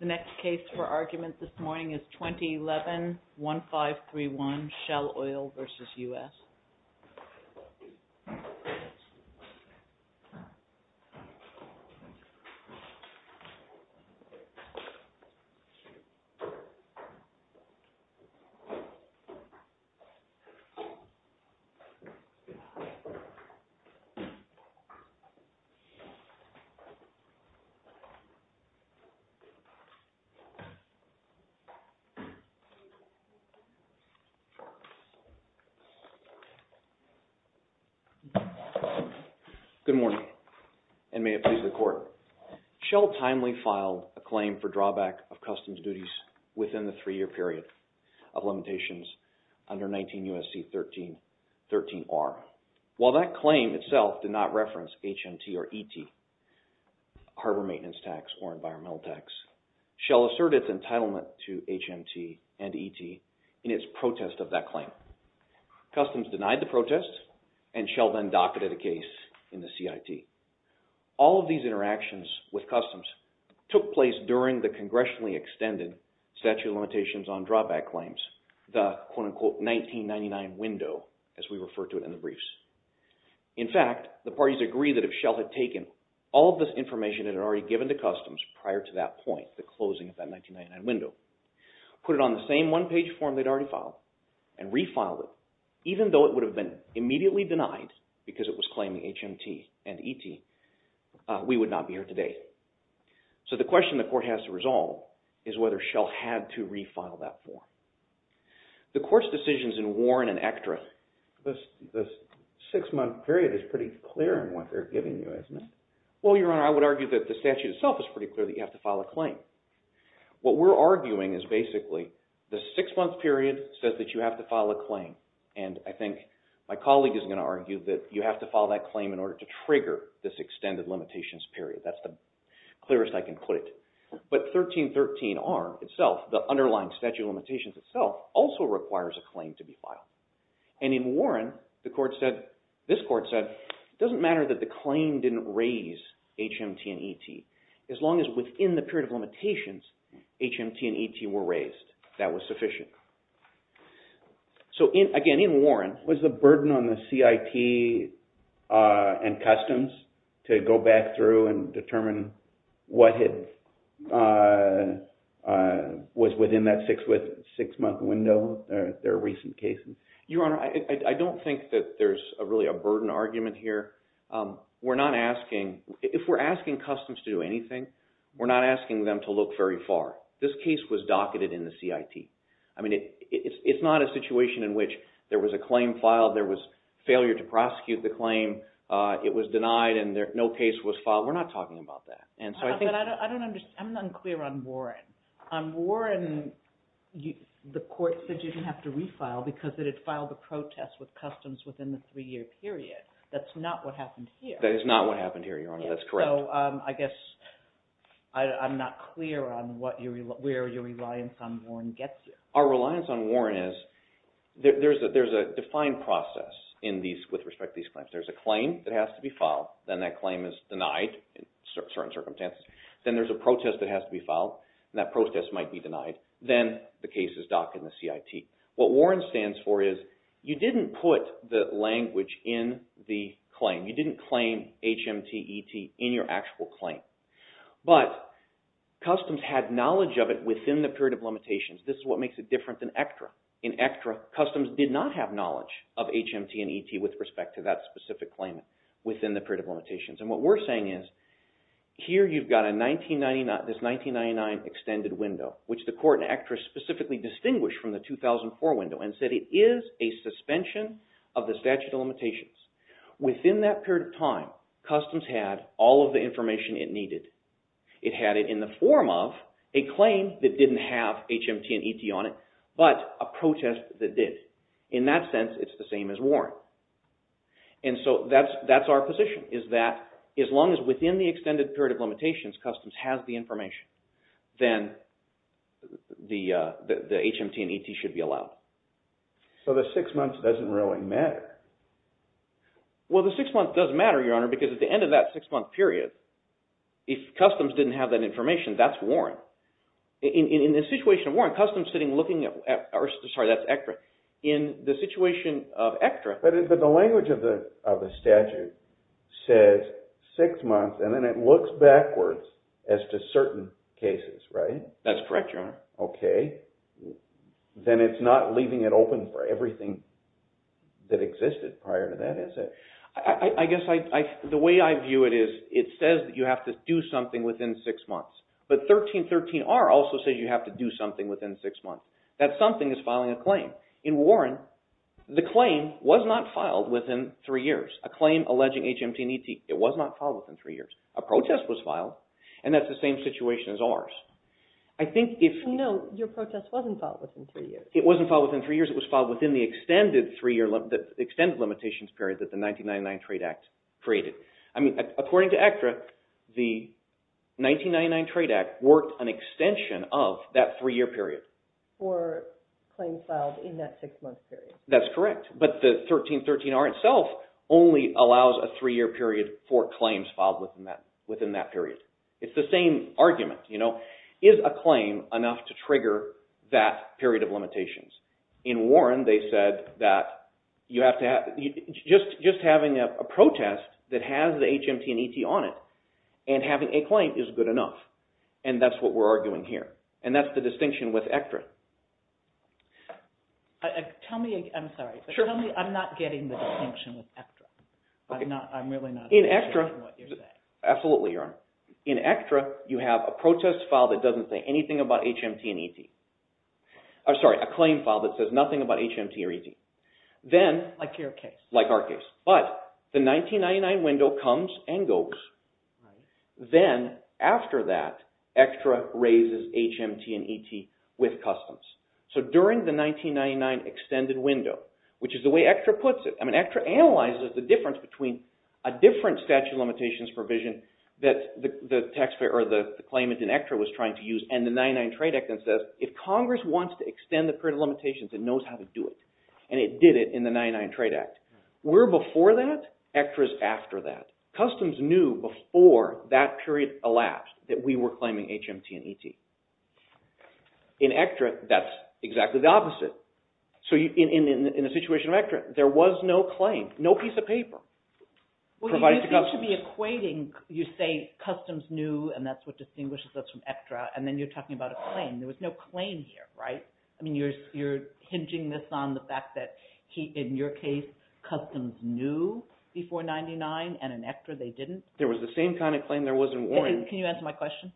The next case for argument this morning is 2011-1531, Shell Oil v. United States. Shell Oil v. United States Shell Oil v. United States Good morning, and may it please the Court. Shell timely filed a claim for drawback of customs duties within the three-year period of limitations under 19 U.S.C. 13-13R. While that claim itself did not reference HMT or ET, Harbor Maintenance Tax or Environmental Tax, Shell asserted its entitlement to HMT and ET in its protest of that claim. Customs denied the protest and Shell then docketed a case in the CIT. All of these interactions with customs took place during the congressionally extended statute of limitations on drawback claims, the quote-unquote 1999 window, as we refer to it in the briefs. In fact, the parties agreed that if Shell had taken all of this information it had already given to customs prior to that point, the closing of that 1999 window, put it on the same one-page form they'd already filed, and refiled it, even though it would have been immediately denied because it was claiming HMT and ET, we would not be here today. So the question the Court has to resolve is whether Shell had to refile that form. The Court's decisions in Warren and Ektra… The six-month period is pretty clear in what they're giving you, isn't it? Well, Your Honor, I would argue that the statute itself is pretty clear that you have to file a claim. What we're arguing is basically the six-month period says that you have to file a claim. And I think my colleague is going to argue that you have to file that claim in order to trigger this extended limitations period. That's the clearest I can put it. But 1313R itself, the underlying statute of limitations itself, also requires a claim to be filed. And in Warren, this Court said, it doesn't matter that the claim didn't raise HMT and ET, as long as within the period of limitations, HMT and ET were raised. That was sufficient. So again, in Warren… Was the burden on the CIT and Customs to go back through and determine what was within that six-month window, their recent cases? Your Honor, I don't think that there's really a burden argument here. We're not asking – if we're asking Customs to do anything, we're not asking them to look very far. This case was docketed in the CIT. I mean, it's not a situation in which there was a claim filed, there was failure to prosecute the claim, it was denied, and no case was filed. We're not talking about that. I'm unclear on Warren. On Warren, the Court said you didn't have to refile because it had filed a protest with Customs within the three-year period. That's not what happened here. That is not what happened here, Your Honor. That's correct. So I guess I'm not clear on where your reliance on Warren gets you. Our reliance on Warren is – there's a defined process with respect to these claims. There's a claim that has to be filed, then that claim is denied in certain circumstances. Then there's a protest that has to be filed, and that protest might be denied. Then the case is docketed in the CIT. What Warren stands for is you didn't put the language in the claim. You didn't claim HMT, ET in your actual claim. But Customs had knowledge of it within the period of limitations. This is what makes it different than ECTRA. In ECTRA, Customs did not have knowledge of HMT and ET with respect to that specific claim within the period of limitations. What we're saying is here you've got this 1999 extended window, which the court in ECTRA specifically distinguished from the 2004 window and said it is a suspension of the statute of limitations. Within that period of time, Customs had all of the information it needed. It had it in the form of a claim that didn't have HMT and ET on it, but a protest that did. In that sense, it's the same as Warren. And so that's our position is that as long as within the extended period of limitations, Customs has the information, then the HMT and ET should be allowed. So the six months doesn't really matter? Well, the six months does matter, Your Honor, because at the end of that six-month period, if Customs didn't have that information, that's Warren. In the situation of Warren, Customs sitting looking at – sorry, that's ECTRA. In the situation of ECTRA – But the language of the statute says six months, and then it looks backwards as to certain cases, right? That's correct, Your Honor. Okay. Then it's not leaving it open for everything that existed prior to that, is it? I guess the way I view it is it says that you have to do something within six months. But 1313R also says you have to do something within six months. That something is filing a claim. In Warren, the claim was not filed within three years. A claim alleging HMT and ET, it was not filed within three years. A protest was filed, and that's the same situation as ours. No, your protest wasn't filed within three years. It wasn't filed within three years. It was filed within the extended limitations period that the 1999 Trade Act created. According to ECTRA, the 1999 Trade Act worked an extension of that three-year period. For claims filed in that six-month period. That's correct. But the 1313R itself only allows a three-year period for claims filed within that period. It's the same argument. Is a claim enough to trigger that period of limitations? In Warren, they said that you have to have – just having a protest that has the HMT and ET on it and having a claim is good enough. And that's what we're arguing here. And that's the distinction with ECTRA. Tell me – I'm sorry. Tell me I'm not getting the distinction with ECTRA. I'm really not getting what you're saying. Absolutely, Aaron. In ECTRA, you have a protest file that doesn't say anything about HMT and ET. I'm sorry, a claim file that says nothing about HMT or ET. Like your case. Like our case. But the 1999 window comes and goes. Then, after that, ECTRA raises HMT and ET with customs. So during the 1999 extended window, which is the way ECTRA puts it – I mean, ECTRA analyzes the difference between a different statute of limitations provision that the claimant in ECTRA was trying to use and the 99 Trade Act that says if Congress wants to extend the period of limitations, it knows how to do it. And it did it in the 99 Trade Act. We're before that. ECTRA is after that. Customs knew before that period elapsed that we were claiming HMT and ET. In ECTRA, that's exactly the opposite. So in the situation of ECTRA, there was no claim, no piece of paper. Well, you seem to be equating – you say customs knew, and that's what distinguishes us from ECTRA, and then you're talking about a claim. There was no claim here, right? I mean, you're hinging this on the fact that, in your case, customs knew before 99, and in ECTRA, they didn't? There was the same kind of claim there was in Warren. Can you answer my question?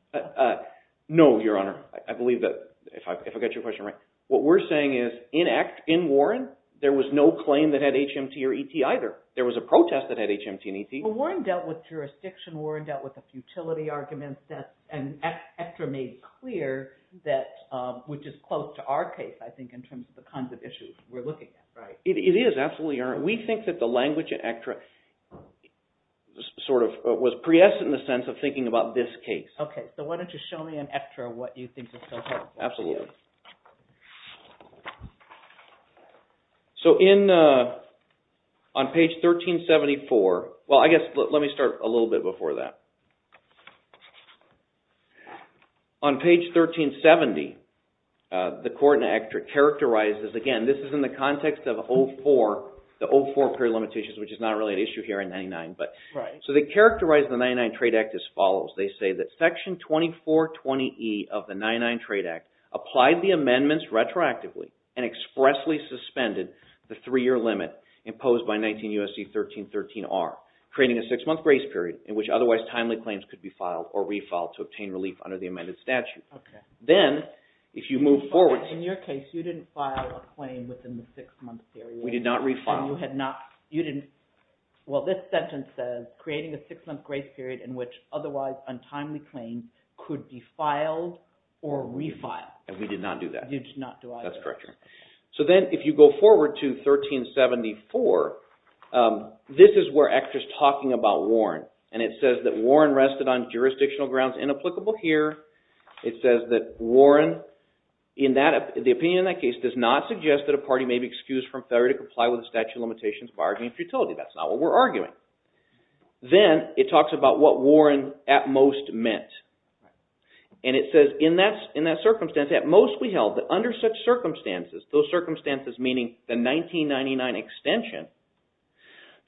No, Your Honor. I believe that, if I got your question right, what we're saying is in Warren, there was no claim that had HMT or ET either. There was a protest that had HMT and ET. Well, Warren dealt with jurisdiction. Warren dealt with the futility arguments, and ECTRA made clear that – which is close to our case, I think, in terms of the kinds of issues we're looking at, right? It is, absolutely, Your Honor. We think that the language in ECTRA sort of was priest in the sense of thinking about this case. Okay, so why don't you show me in ECTRA what you think is so important. Absolutely. So on page 1374 – well, I guess let me start a little bit before that. On page 1370, the court in ECTRA characterizes – again, this is in the context of the 04 period limitations, which is not really an issue here in 99. So they characterize the 99 Trade Act as follows. They say that Section 2420E of the 99 Trade Act applied the amendments retroactively and expressly suspended the three-year limit imposed by 19 U.S.C. 1313R, creating a six-month grace period in which otherwise timely claims could be filed or refiled to obtain relief under the amended statute. Okay. Then, if you move forward – In your case, you didn't file a claim within the six-month period. We did not refile. Well, this sentence says, creating a six-month grace period in which otherwise untimely claims could be filed or refiled. And we did not do that. You did not do either. That's correct. So then if you go forward to 1374, this is where ECTRA is talking about Warren, and it says that Warren rested on jurisdictional grounds inapplicable here. It says that Warren, the opinion in that case, does not suggest that a party may be excused from failure to comply with the statute of limitations of arrogance and futility. That's not what we're arguing. Then it talks about what Warren at most meant. And it says, in that circumstance, at most we held that under such circumstances, those circumstances meaning the 1999 extension,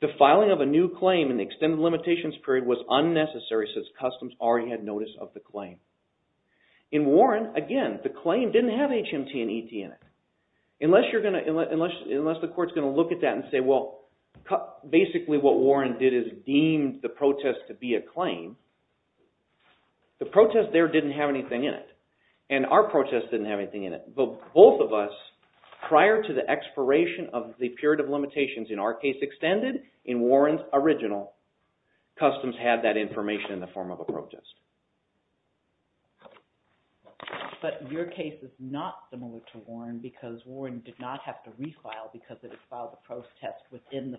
the filing of a new claim in the extended limitations period was unnecessary since customs already had notice of the claim. In Warren, again, the claim didn't have HMT and ET in it. Unless the court is going to look at that and say, well, basically what Warren did is deemed the protest to be a claim, the protest there didn't have anything in it. And our protest didn't have anything in it. But both of us, prior to the expiration of the period of limitations in our case extended, in Warren's original, customs had that information in the form of a protest. But your case is not similar to Warren because Warren did not have to refile because it had filed a protest within the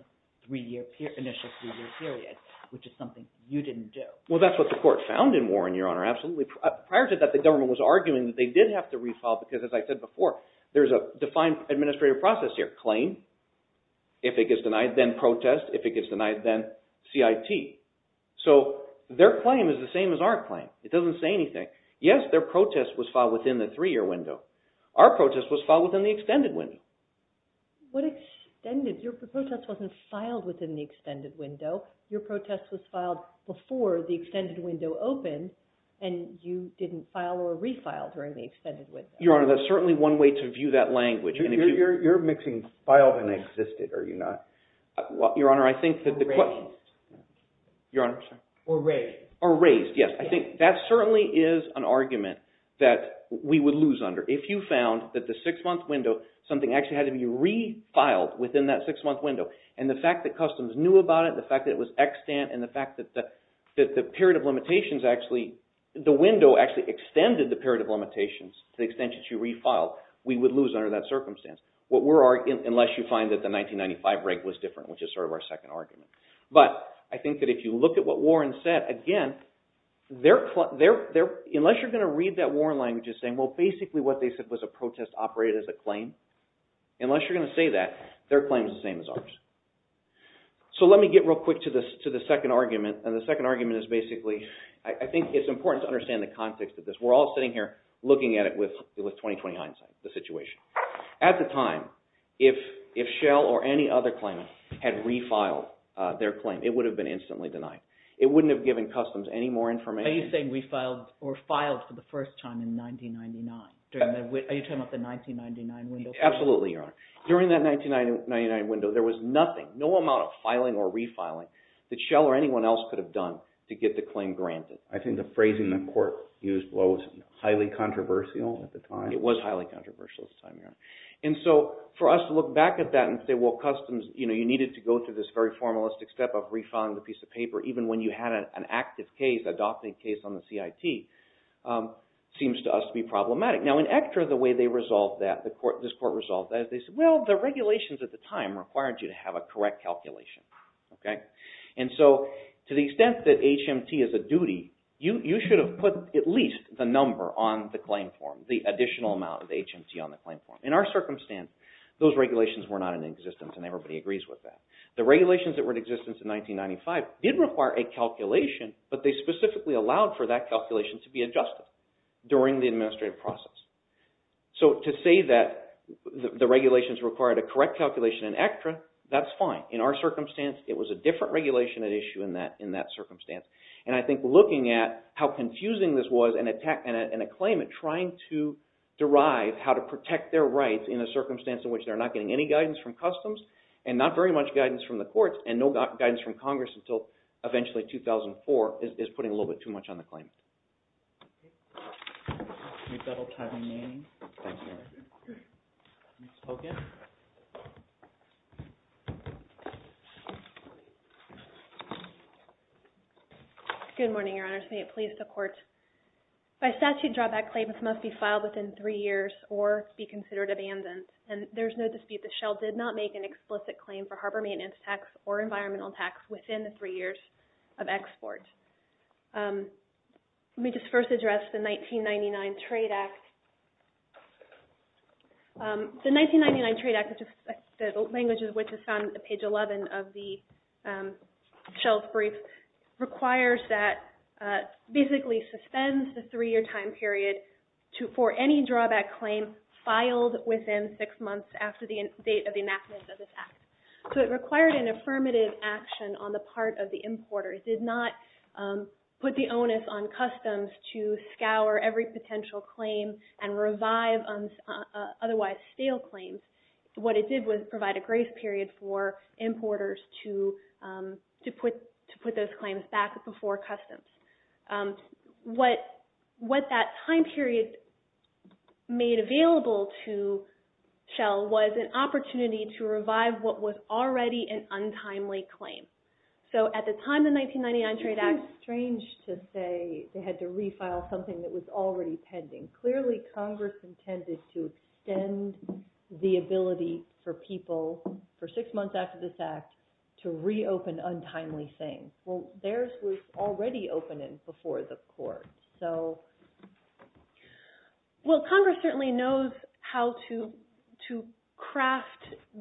initial three-year period, which is something you didn't do. Well, that's what the court found in Warren, Your Honor, absolutely. Prior to that, the government was arguing that they did have to refile because, as I said before, there's a defined administrative process here. Claim, if it gets denied, then protest. If it gets denied, then CIT. So their claim is the same as our claim. It doesn't say anything. Yes, their protest was filed within the three-year window. Our protest was filed within the extended window. What extended? Your protest wasn't filed within the extended window. Your protest was filed before the extended window opened, and you didn't file or refile during the extended window. Your Honor, that's certainly one way to view that language. You're mixing filed and existed, are you not? Your Honor, I think that the… Or raised. Your Honor? Or raised. Or raised, yes. I think that certainly is an argument that we would lose under. If you found that the six-month window, something actually had to be refiled within that six-month window, and the fact that Customs knew about it, the fact that it was extant, and the fact that the window actually extended the period of limitations to the extent that you refiled, we would lose under that circumstance, unless you find that the 1995 break was different, which is sort of our second argument. But I think that if you look at what Warren said, again, unless you're going to read that Warren language as saying, well, basically what they said was a protest operated as a claim, unless you're going to say that, their claim is the same as ours. So let me get real quick to the second argument, and the second argument is basically, I think it's important to understand the context of this. We're all sitting here looking at it with 20-20 hindsight, the situation. At the time, if Shell or any other claimant had refiled their claim, it would have been instantly denied. It wouldn't have given Customs any more information. Are you saying refiled or filed for the first time in 1999? Are you talking about the 1999 window? Absolutely, Your Honor. During that 1999 window, there was nothing, no amount of filing or refiling, that Shell or anyone else could have done to get the claim granted. I think the phrasing the court used was highly controversial at the time. It was highly controversial at the time, Your Honor. And so for us to look back at that and say, well, Customs, you needed to go through this very formalistic step of refunding the piece of paper, even when you had an active case, adopting a case on the CIT, seems to us to be problematic. Now in ECTRA, the way they resolved that, this court resolved that, they said, well, the regulations at the time required you to have a correct calculation. And so to the extent that HMT is a duty, you should have put at least the number on the claim form, the additional amount of HMT on the claim form. In our circumstance, those regulations were not in existence and everybody agrees with that. The regulations that were in existence in 1995 did require a calculation, but they specifically allowed for that calculation to be adjusted during the administrative process. So to say that the regulations required a correct calculation in ECTRA, that's fine. In our circumstance, it was a different regulation at issue in that circumstance. And I think looking at how confusing this was and a claimant trying to derive how to protect their rights in a circumstance in which they're not getting any guidance from Customs and not very much guidance from the courts and no guidance from Congress until eventually 2004 is putting a little bit too much on the claim. Good morning, Your Honors. May it please the Court. By statute, drawback claims must be filed within three years or be considered abandoned. And there's no dispute that Shell did not make an explicit claim for harbor maintenance tax or environmental tax within the three years of export. Let me just first address the 1999 Trade Act. The 1999 Trade Act, the language of which is found on page 11 of the Shell's brief, requires that basically suspends the three-year time period for any drawback claim filed within six months after the date of enactment of this Act. So it required an affirmative action on the part of the importer. It did not put the onus on Customs to scour every potential claim and revive otherwise stale claims. What it did was provide a grace period for importers to put those claims back before Customs. What that time period made available to Shell was an opportunity to revive what was already an untimely claim. So at the time the 1999 Trade Act... It seems strange to say they had to refile something that was already pending. Clearly, Congress intended to extend the ability for people, for six months after this Act, to reopen untimely claims. Well, theirs was already open before the Court. Well, Congress certainly knows how to craft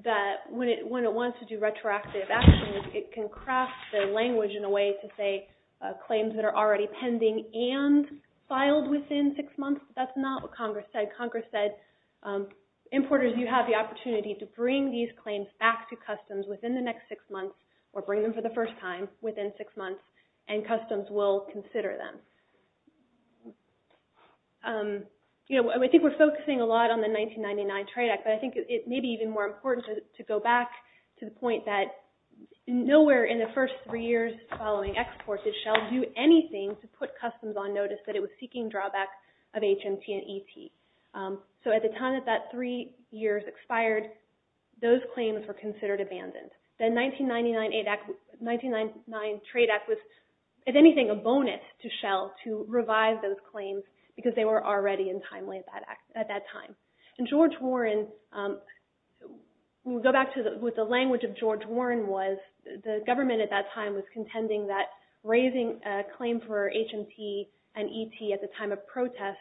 that. When it wants to do retroactive actions, it can craft the language in a way to say That's not what Congress said. Congress said, importers, you have the opportunity to bring these claims back to Customs within the next six months, or bring them for the first time within six months, and Customs will consider them. I think we're focusing a lot on the 1999 Trade Act, but I think it may be even more important to go back to the point that nowhere in the first three years following export did Shell do anything to put Customs on notice that it was seeking drawback of HMT and ET. So at the time that that three years expired, those claims were considered abandoned. The 1999 Trade Act was, if anything, a bonus to Shell to revise those claims because they were already untimely at that time. And George Warren... We'll go back to what the language of George Warren was. The government at that time was contending that raising a claim for HMT and ET at the time of protest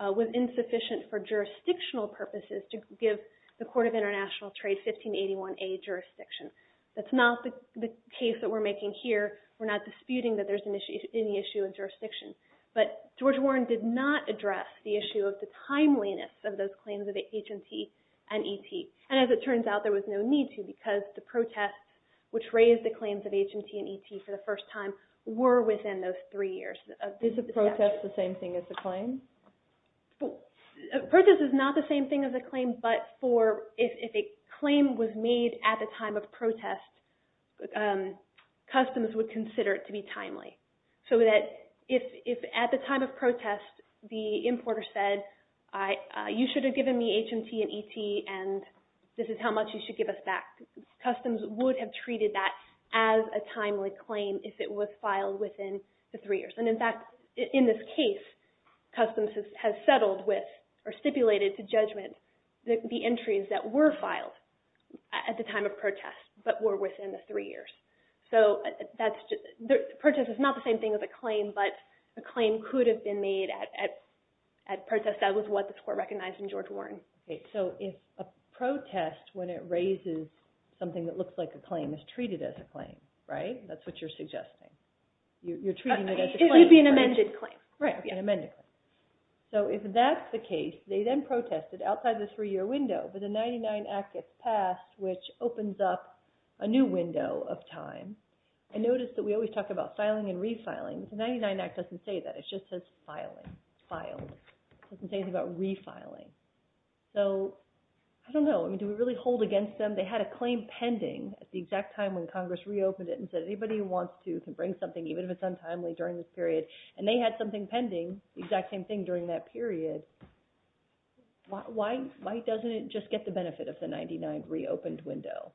was insufficient for jurisdictional purposes to give the Court of International Trade 1581A jurisdiction. That's not the case that we're making here. We're not disputing that there's any issue in jurisdiction. But George Warren did not address the issue of the timeliness of those claims of HMT and ET. And as it turns out, there was no need to because the protests which raised the claims of HMT and ET for the first time were within those three years. Is a protest the same thing as a claim? A protest is not the same thing as a claim, but if a claim was made at the time of protest, Customs would consider it to be timely. So that if at the time of protest the importer said, you should have given me HMT and ET and this is how much you should give us back, Customs would have treated that as a timely claim if it was filed within the three years. And in fact, in this case, Customs has settled with or stipulated to judgment the entries that were filed at the time of protest but were within the three years. So the protest is not the same thing as a claim, but the claim could have been made at protest. That was what the court recognized in George Warren. So if a protest, when it raises something that looks like a claim, is treated as a claim, right? That's what you're suggesting. It would be an amended claim. Right, an amended claim. So if that's the case, they then protested outside the three-year window, but the 99 Act gets passed, which opens up a new window of time. I noticed that we always talk about filing and refiling. The 99 Act doesn't say that. It just says filing, filed. It doesn't say anything about refiling. So I don't know. Do we really hold against them? They had a claim pending at the exact time when Congress reopened it and said anybody who wants to can bring something, even if it's untimely, during this period. And they had something pending, the exact same thing, during that period. Why doesn't it just get the benefit of the 99 reopened window?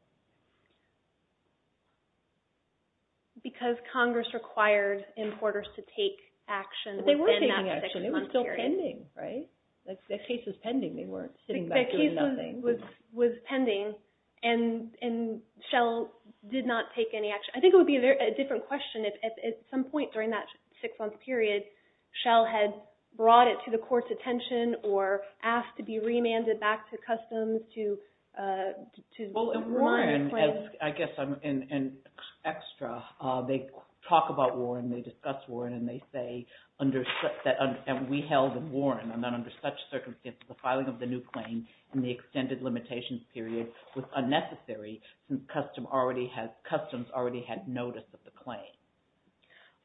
Because Congress required importers to take action within that six-month period. They were taking action. It was still pending, right? The case was pending. They weren't sitting back doing nothing. The case was pending, and Shell did not take any action. I think it would be a different question if at some point during that six-month period Shell had brought it to the court's attention or asked to be remanded back to Customs to warn the claim. Well, Warren, I guess I'm in extra. They talk about Warren. They discuss Warren, and they say that we held Warren, and that under such circumstances, the filing of the new claim in the extended limitations period was unnecessary since Customs already had notice of the claim.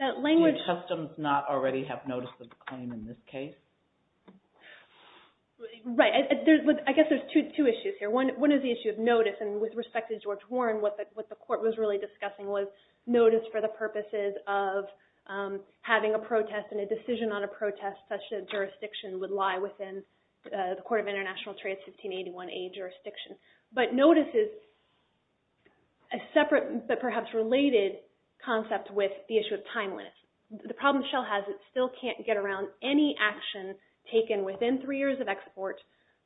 Did Customs not already have notice of the claim in this case? Right. I guess there's two issues here. One is the issue of notice, and with respect to George Warren, what the court was really discussing was notice for the purposes of having a protest and a decision on a protest such that jurisdiction would lie within the Court of International Trade's 1581A jurisdiction. But notice is a separate but perhaps related concept with the issue of timeliness. The problem Shell has, it still can't get around any action taken within three years of export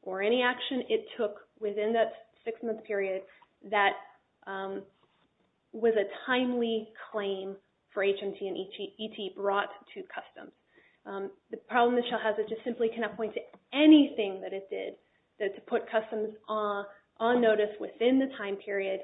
or any action it took within that six-month period that was a timely claim for HMT and ET brought to Customs. The problem that Shell has, it just simply cannot point to anything that it did to put Customs on notice within the time period,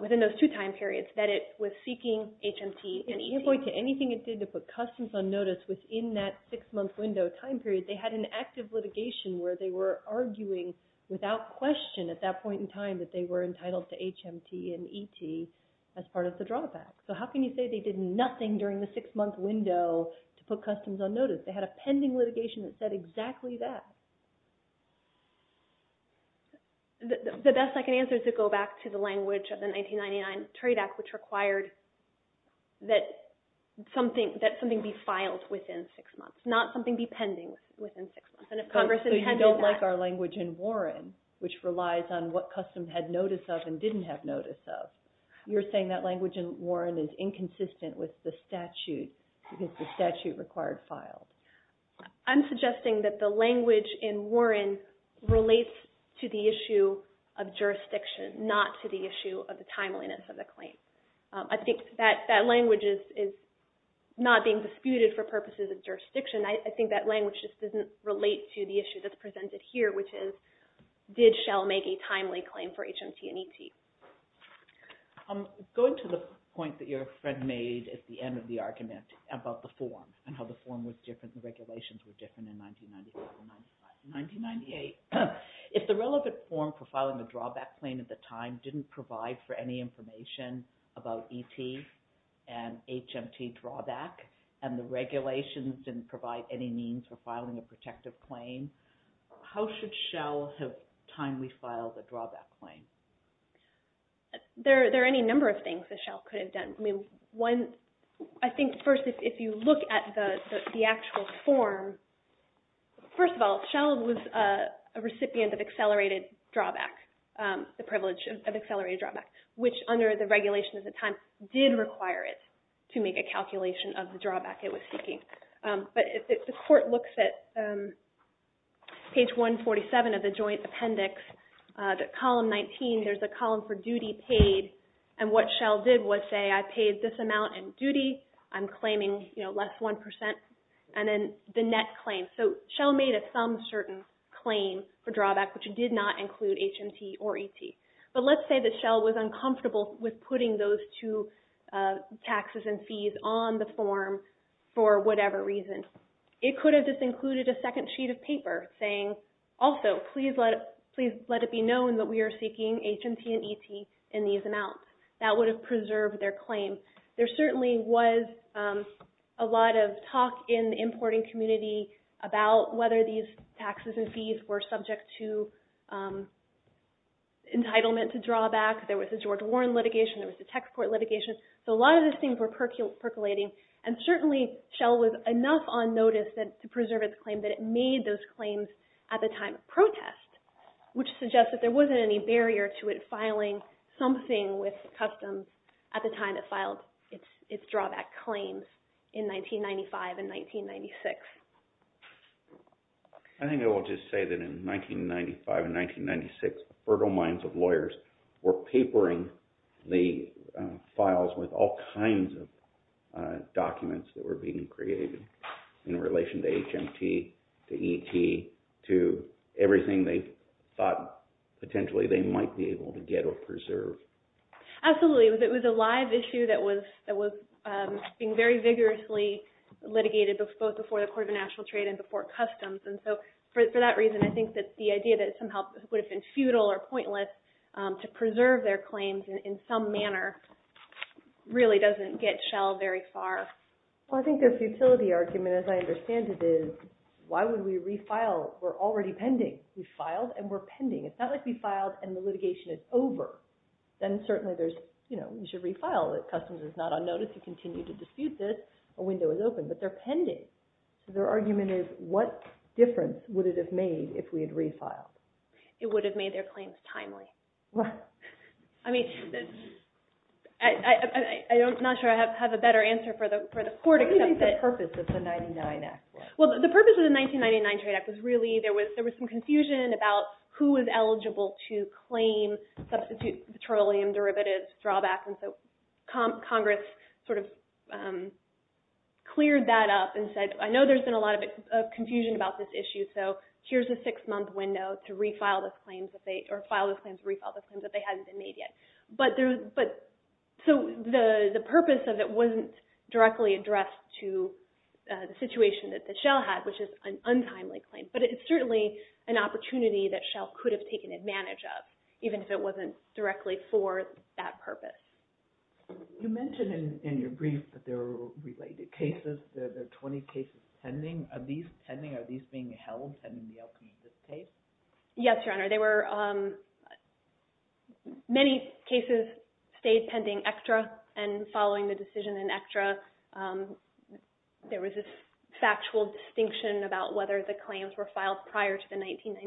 within those two time periods that it was seeking HMT and ET. It can't point to anything it did to put Customs on notice within that six-month window time period. They had an active litigation where they were arguing without question at that point in time that they were entitled to HMT and ET as part of the drawback. So how can you say they did nothing during the six-month window to put Customs on notice? They had a pending litigation that said exactly that. The best I can answer is to go back to the language of the 1999 Trade Act which required that something be filed within six months, not something be pending within six months. So you don't like our language in Warren, which relies on what Customs had notice of and didn't have notice of. You're saying that language in Warren is inconsistent with the statute because the statute required files. I'm suggesting that the language in Warren relates to the issue of jurisdiction, not to the issue of the timeliness of the claim. I think that language is not being disputed for purposes of jurisdiction. I think that language just doesn't relate to the issue that's presented here, which is did Shell make a timely claim for HMT and ET. Going to the point that your friend made at the end of the argument about the form and the regulations were different in 1996 and 1995. In 1998, if the relevant form for filing a drawback claim at the time didn't provide for any information about ET and HMT drawback and the regulations didn't provide any means for filing a protective claim, how should Shell have timely filed a drawback claim? There are any number of things that Shell could have done. I think first if you look at the actual form, first of all, Shell was a recipient of accelerated drawback, the privilege of accelerated drawback, which under the regulation at the time did require it to make a calculation of the drawback it was seeking. But if the court looks at page 147 of the joint appendix, the column 19, there's a column for duty paid, and what Shell did was say, I paid this amount in duty, I'm claiming less 1%, and then the net claim. So Shell made a some certain claim for drawback, which did not include HMT or ET. But let's say that Shell was uncomfortable with putting those two taxes and fees on the form for whatever reason. It could have just included a second sheet of paper saying, also, please let it be known that we are seeking HMT and ET in these amounts. That would have preserved their claim. There certainly was a lot of talk in the importing community about whether these taxes and fees were subject to entitlement to drawback. There was the George Warren litigation. There was the tech support litigation. So a lot of these things were percolating, and certainly Shell was enough on notice to preserve its claim that it made those claims at the time of protest, which suggests that there wasn't any barrier to it filing something with customs at the time it filed its drawback claim in 1995 and 1996. I think I will just say that in 1995 and 1996, the fertile minds of lawyers were papering the files with all kinds of documents that were being created in relation to HMT, to ET, to everything they thought potentially they might be able to get or preserve. Absolutely. It was a live issue that was being very vigorously litigated both before the Court of National Trade and before customs. And so for that reason, I think that the idea that it somehow would have been futile or pointless to preserve their claims in some manner really doesn't get Shell very far. Well, I think their futility argument, as I understand it, is why would we refile? We're already pending. We filed and we're pending. It's not like we filed and the litigation is over. Then certainly there's, you know, you should refile. Customs is not on notice. You continue to dispute this. A window is open. But they're pending. Their argument is what difference would it have made if we had refiled? It would have made their claims timely. I mean, I'm not sure I have a better answer for the Court except that… What do you think the purpose of the 1999 Act was? Well, the purpose of the 1999 Trade Act was really there was some confusion about who was eligible to claim substitute petroleum derivatives drawbacks. And so Congress sort of cleared that up and said, I know there's been a lot of confusion about this issue, so here's a six-month window to refile the claims that they hadn't been made yet. So the purpose of it wasn't directly addressed to the situation that Shell had, which is an untimely claim. But it's certainly an opportunity that Shell could have taken advantage of, even if it wasn't directly for that purpose. You mentioned in your brief that there were related cases. There are 20 cases pending. Are these pending? Are these being held pending the opening of this case? Yes, Your Honor. Many cases stayed pending extra and following the decision in extra, there was this factual distinction about whether the claims were filed prior to the 1998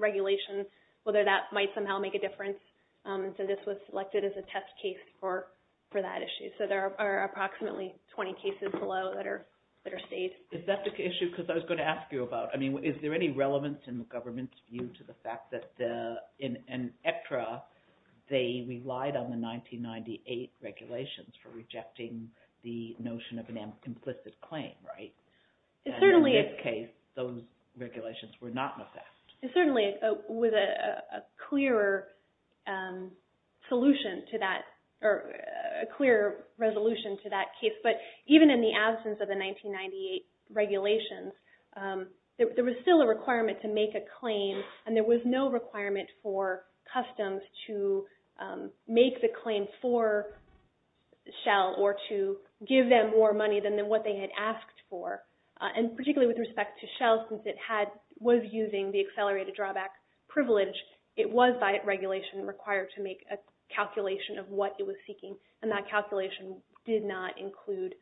regulation, whether that might somehow make a difference. So this was selected as a test case for that issue. So there are approximately 20 cases below that are state. Is that the issue? Because I was going to ask you about, I mean, is there any relevance in the government's view to the fact that in extra, they relied on the 1998 regulations for rejecting the notion of an implicit claim, right? It certainly was a clearer solution to that, or a clearer resolution to that case. But even in the absence of the 1998 regulations, there was still a requirement to make a claim, and there was no requirement for customs to make the claim for Shell or to give them more money than what they had asked for. And particularly with respect to Shell, since it was using the accelerated drawback privilege, it was by regulation required to make a calculation of what it was seeking, and that calculation did not include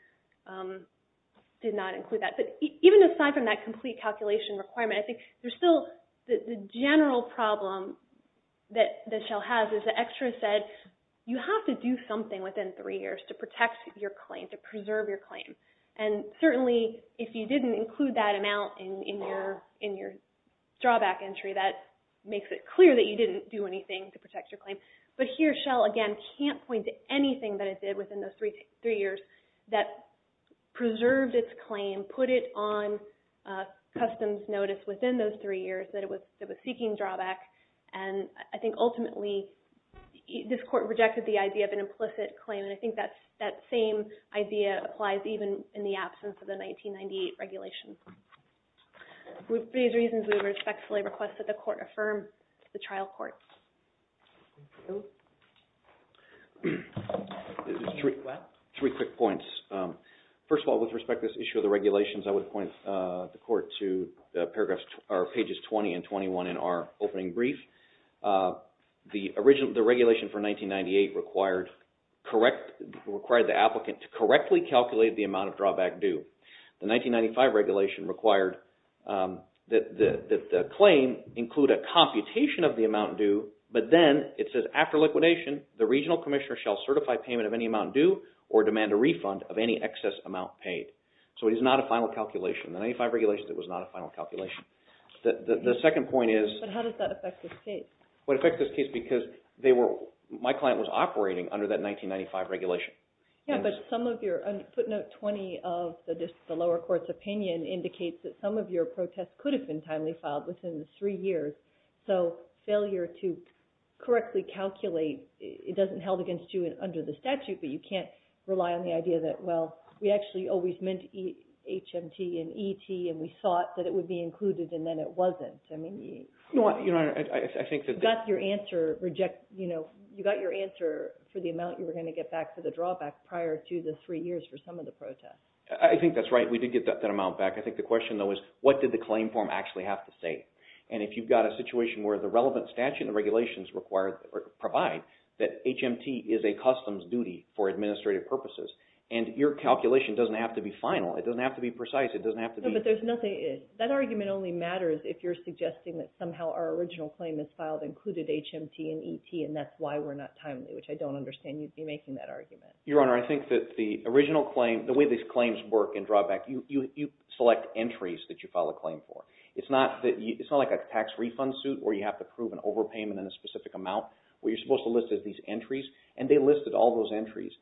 that. But even aside from that complete calculation requirement, I think there's still the general problem that Shell has is that extra said, you have to do something within three years to protect your claim, to preserve your claim. And certainly if you didn't include that amount in your drawback entry, that makes it clear that you didn't do anything to protect your claim. But here Shell, again, can't point to anything that it did within those three years that preserved its claim, put it on customs notice within those three years that it was seeking drawback. And I think ultimately this court rejected the idea of an implicit claim, and I think that same idea applies even in the absence of the 1998 regulation. For these reasons, we respectfully request that the court affirm the trial court. Three quick points. First of all, with respect to this issue of the regulations, I would point the court to pages 20 and 21 in our opening brief. The regulation for 1998 required the applicant to correctly calculate the amount of drawback due. The 1995 regulation required that the claim include a computation of the amount due, but then it says, after liquidation, the regional commissioner shall certify payment of any amount due or demand a refund of any excess amount paid. So it is not a final calculation. The 1995 regulation, it was not a final calculation. The second point is... But how does that affect this case? It affects this case because my client was operating under that 1995 regulation. Yeah, but some of your... Put note 20 of the lower court's opinion indicates that some of your protests could have been timely filed within the three years. So failure to correctly calculate, it doesn't held against you under the statute, but you can't rely on the idea that, well, we actually always meant HMT and ET and we thought that it would be included and then it wasn't. I mean... I think that... You got your answer for the amount you were going to get back for the drawback prior to the three years for some of the protests. I think that's right. We did get that amount back. I think the question, though, is what did the claim form actually have to say? And if you've got a situation where the relevant statute and regulations provide that HMT is a customs duty for administrative purposes and your calculation doesn't have to be final, it doesn't have to be precise, it doesn't have to be... No, but there's nothing... That argument only matters if you're suggesting that somehow our original claim is filed included HMT and ET and that's why we're not timely, which I don't understand you'd be making that argument. Your Honor, I think that the original claim, the way these claims work in drawback, you select entries that you file a claim for. It's not like a tax refund suit where you have to prove an overpayment in a specific amount where you're supposed to list these entries, and they listed all those entries.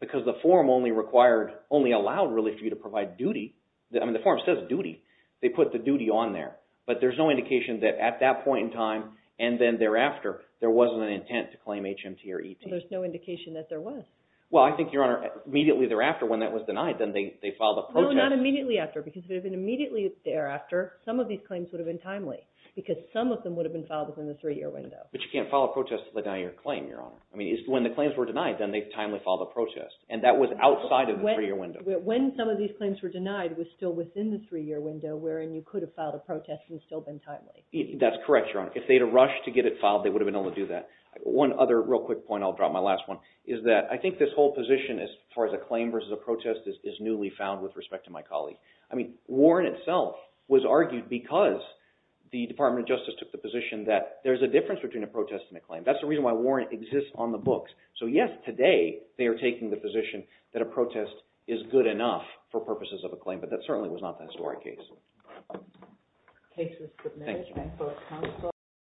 Because the form only allowed really for you to provide duty. The form says duty. They put the duty on there, but there's no indication that at that point in time and then thereafter there wasn't an intent to claim HMT or ET. There's no indication that there was. Well, I think, Your Honor, immediately thereafter when that was denied, then they filed a protest. No, not immediately after because if it had been immediately thereafter, some of these claims would have been timely because some of them would have been filed within the three-year window. But you can't file a protest to the nine-year claim, Your Honor. I mean, when the claims were denied, then they timely filed a protest, and that was outside of the three-year window. When some of these claims were denied was still within the three-year window wherein you could have filed a protest and still been timely. That's correct, Your Honor. If they had rushed to get it filed, they would have been able to do that. One other real quick point, I'll drop my last one, is that I think this whole position as far as a claim versus a protest is newly found with respect to my colleague. I mean, Warren itself was argued because the Department of Justice took the position that there's a difference between a protest and a claim. That's the reason why Warren exists on the books. So, yes, today they are taking the position that a protest is good enough for purposes of a claim, but that certainly was not the historic case. Thank you.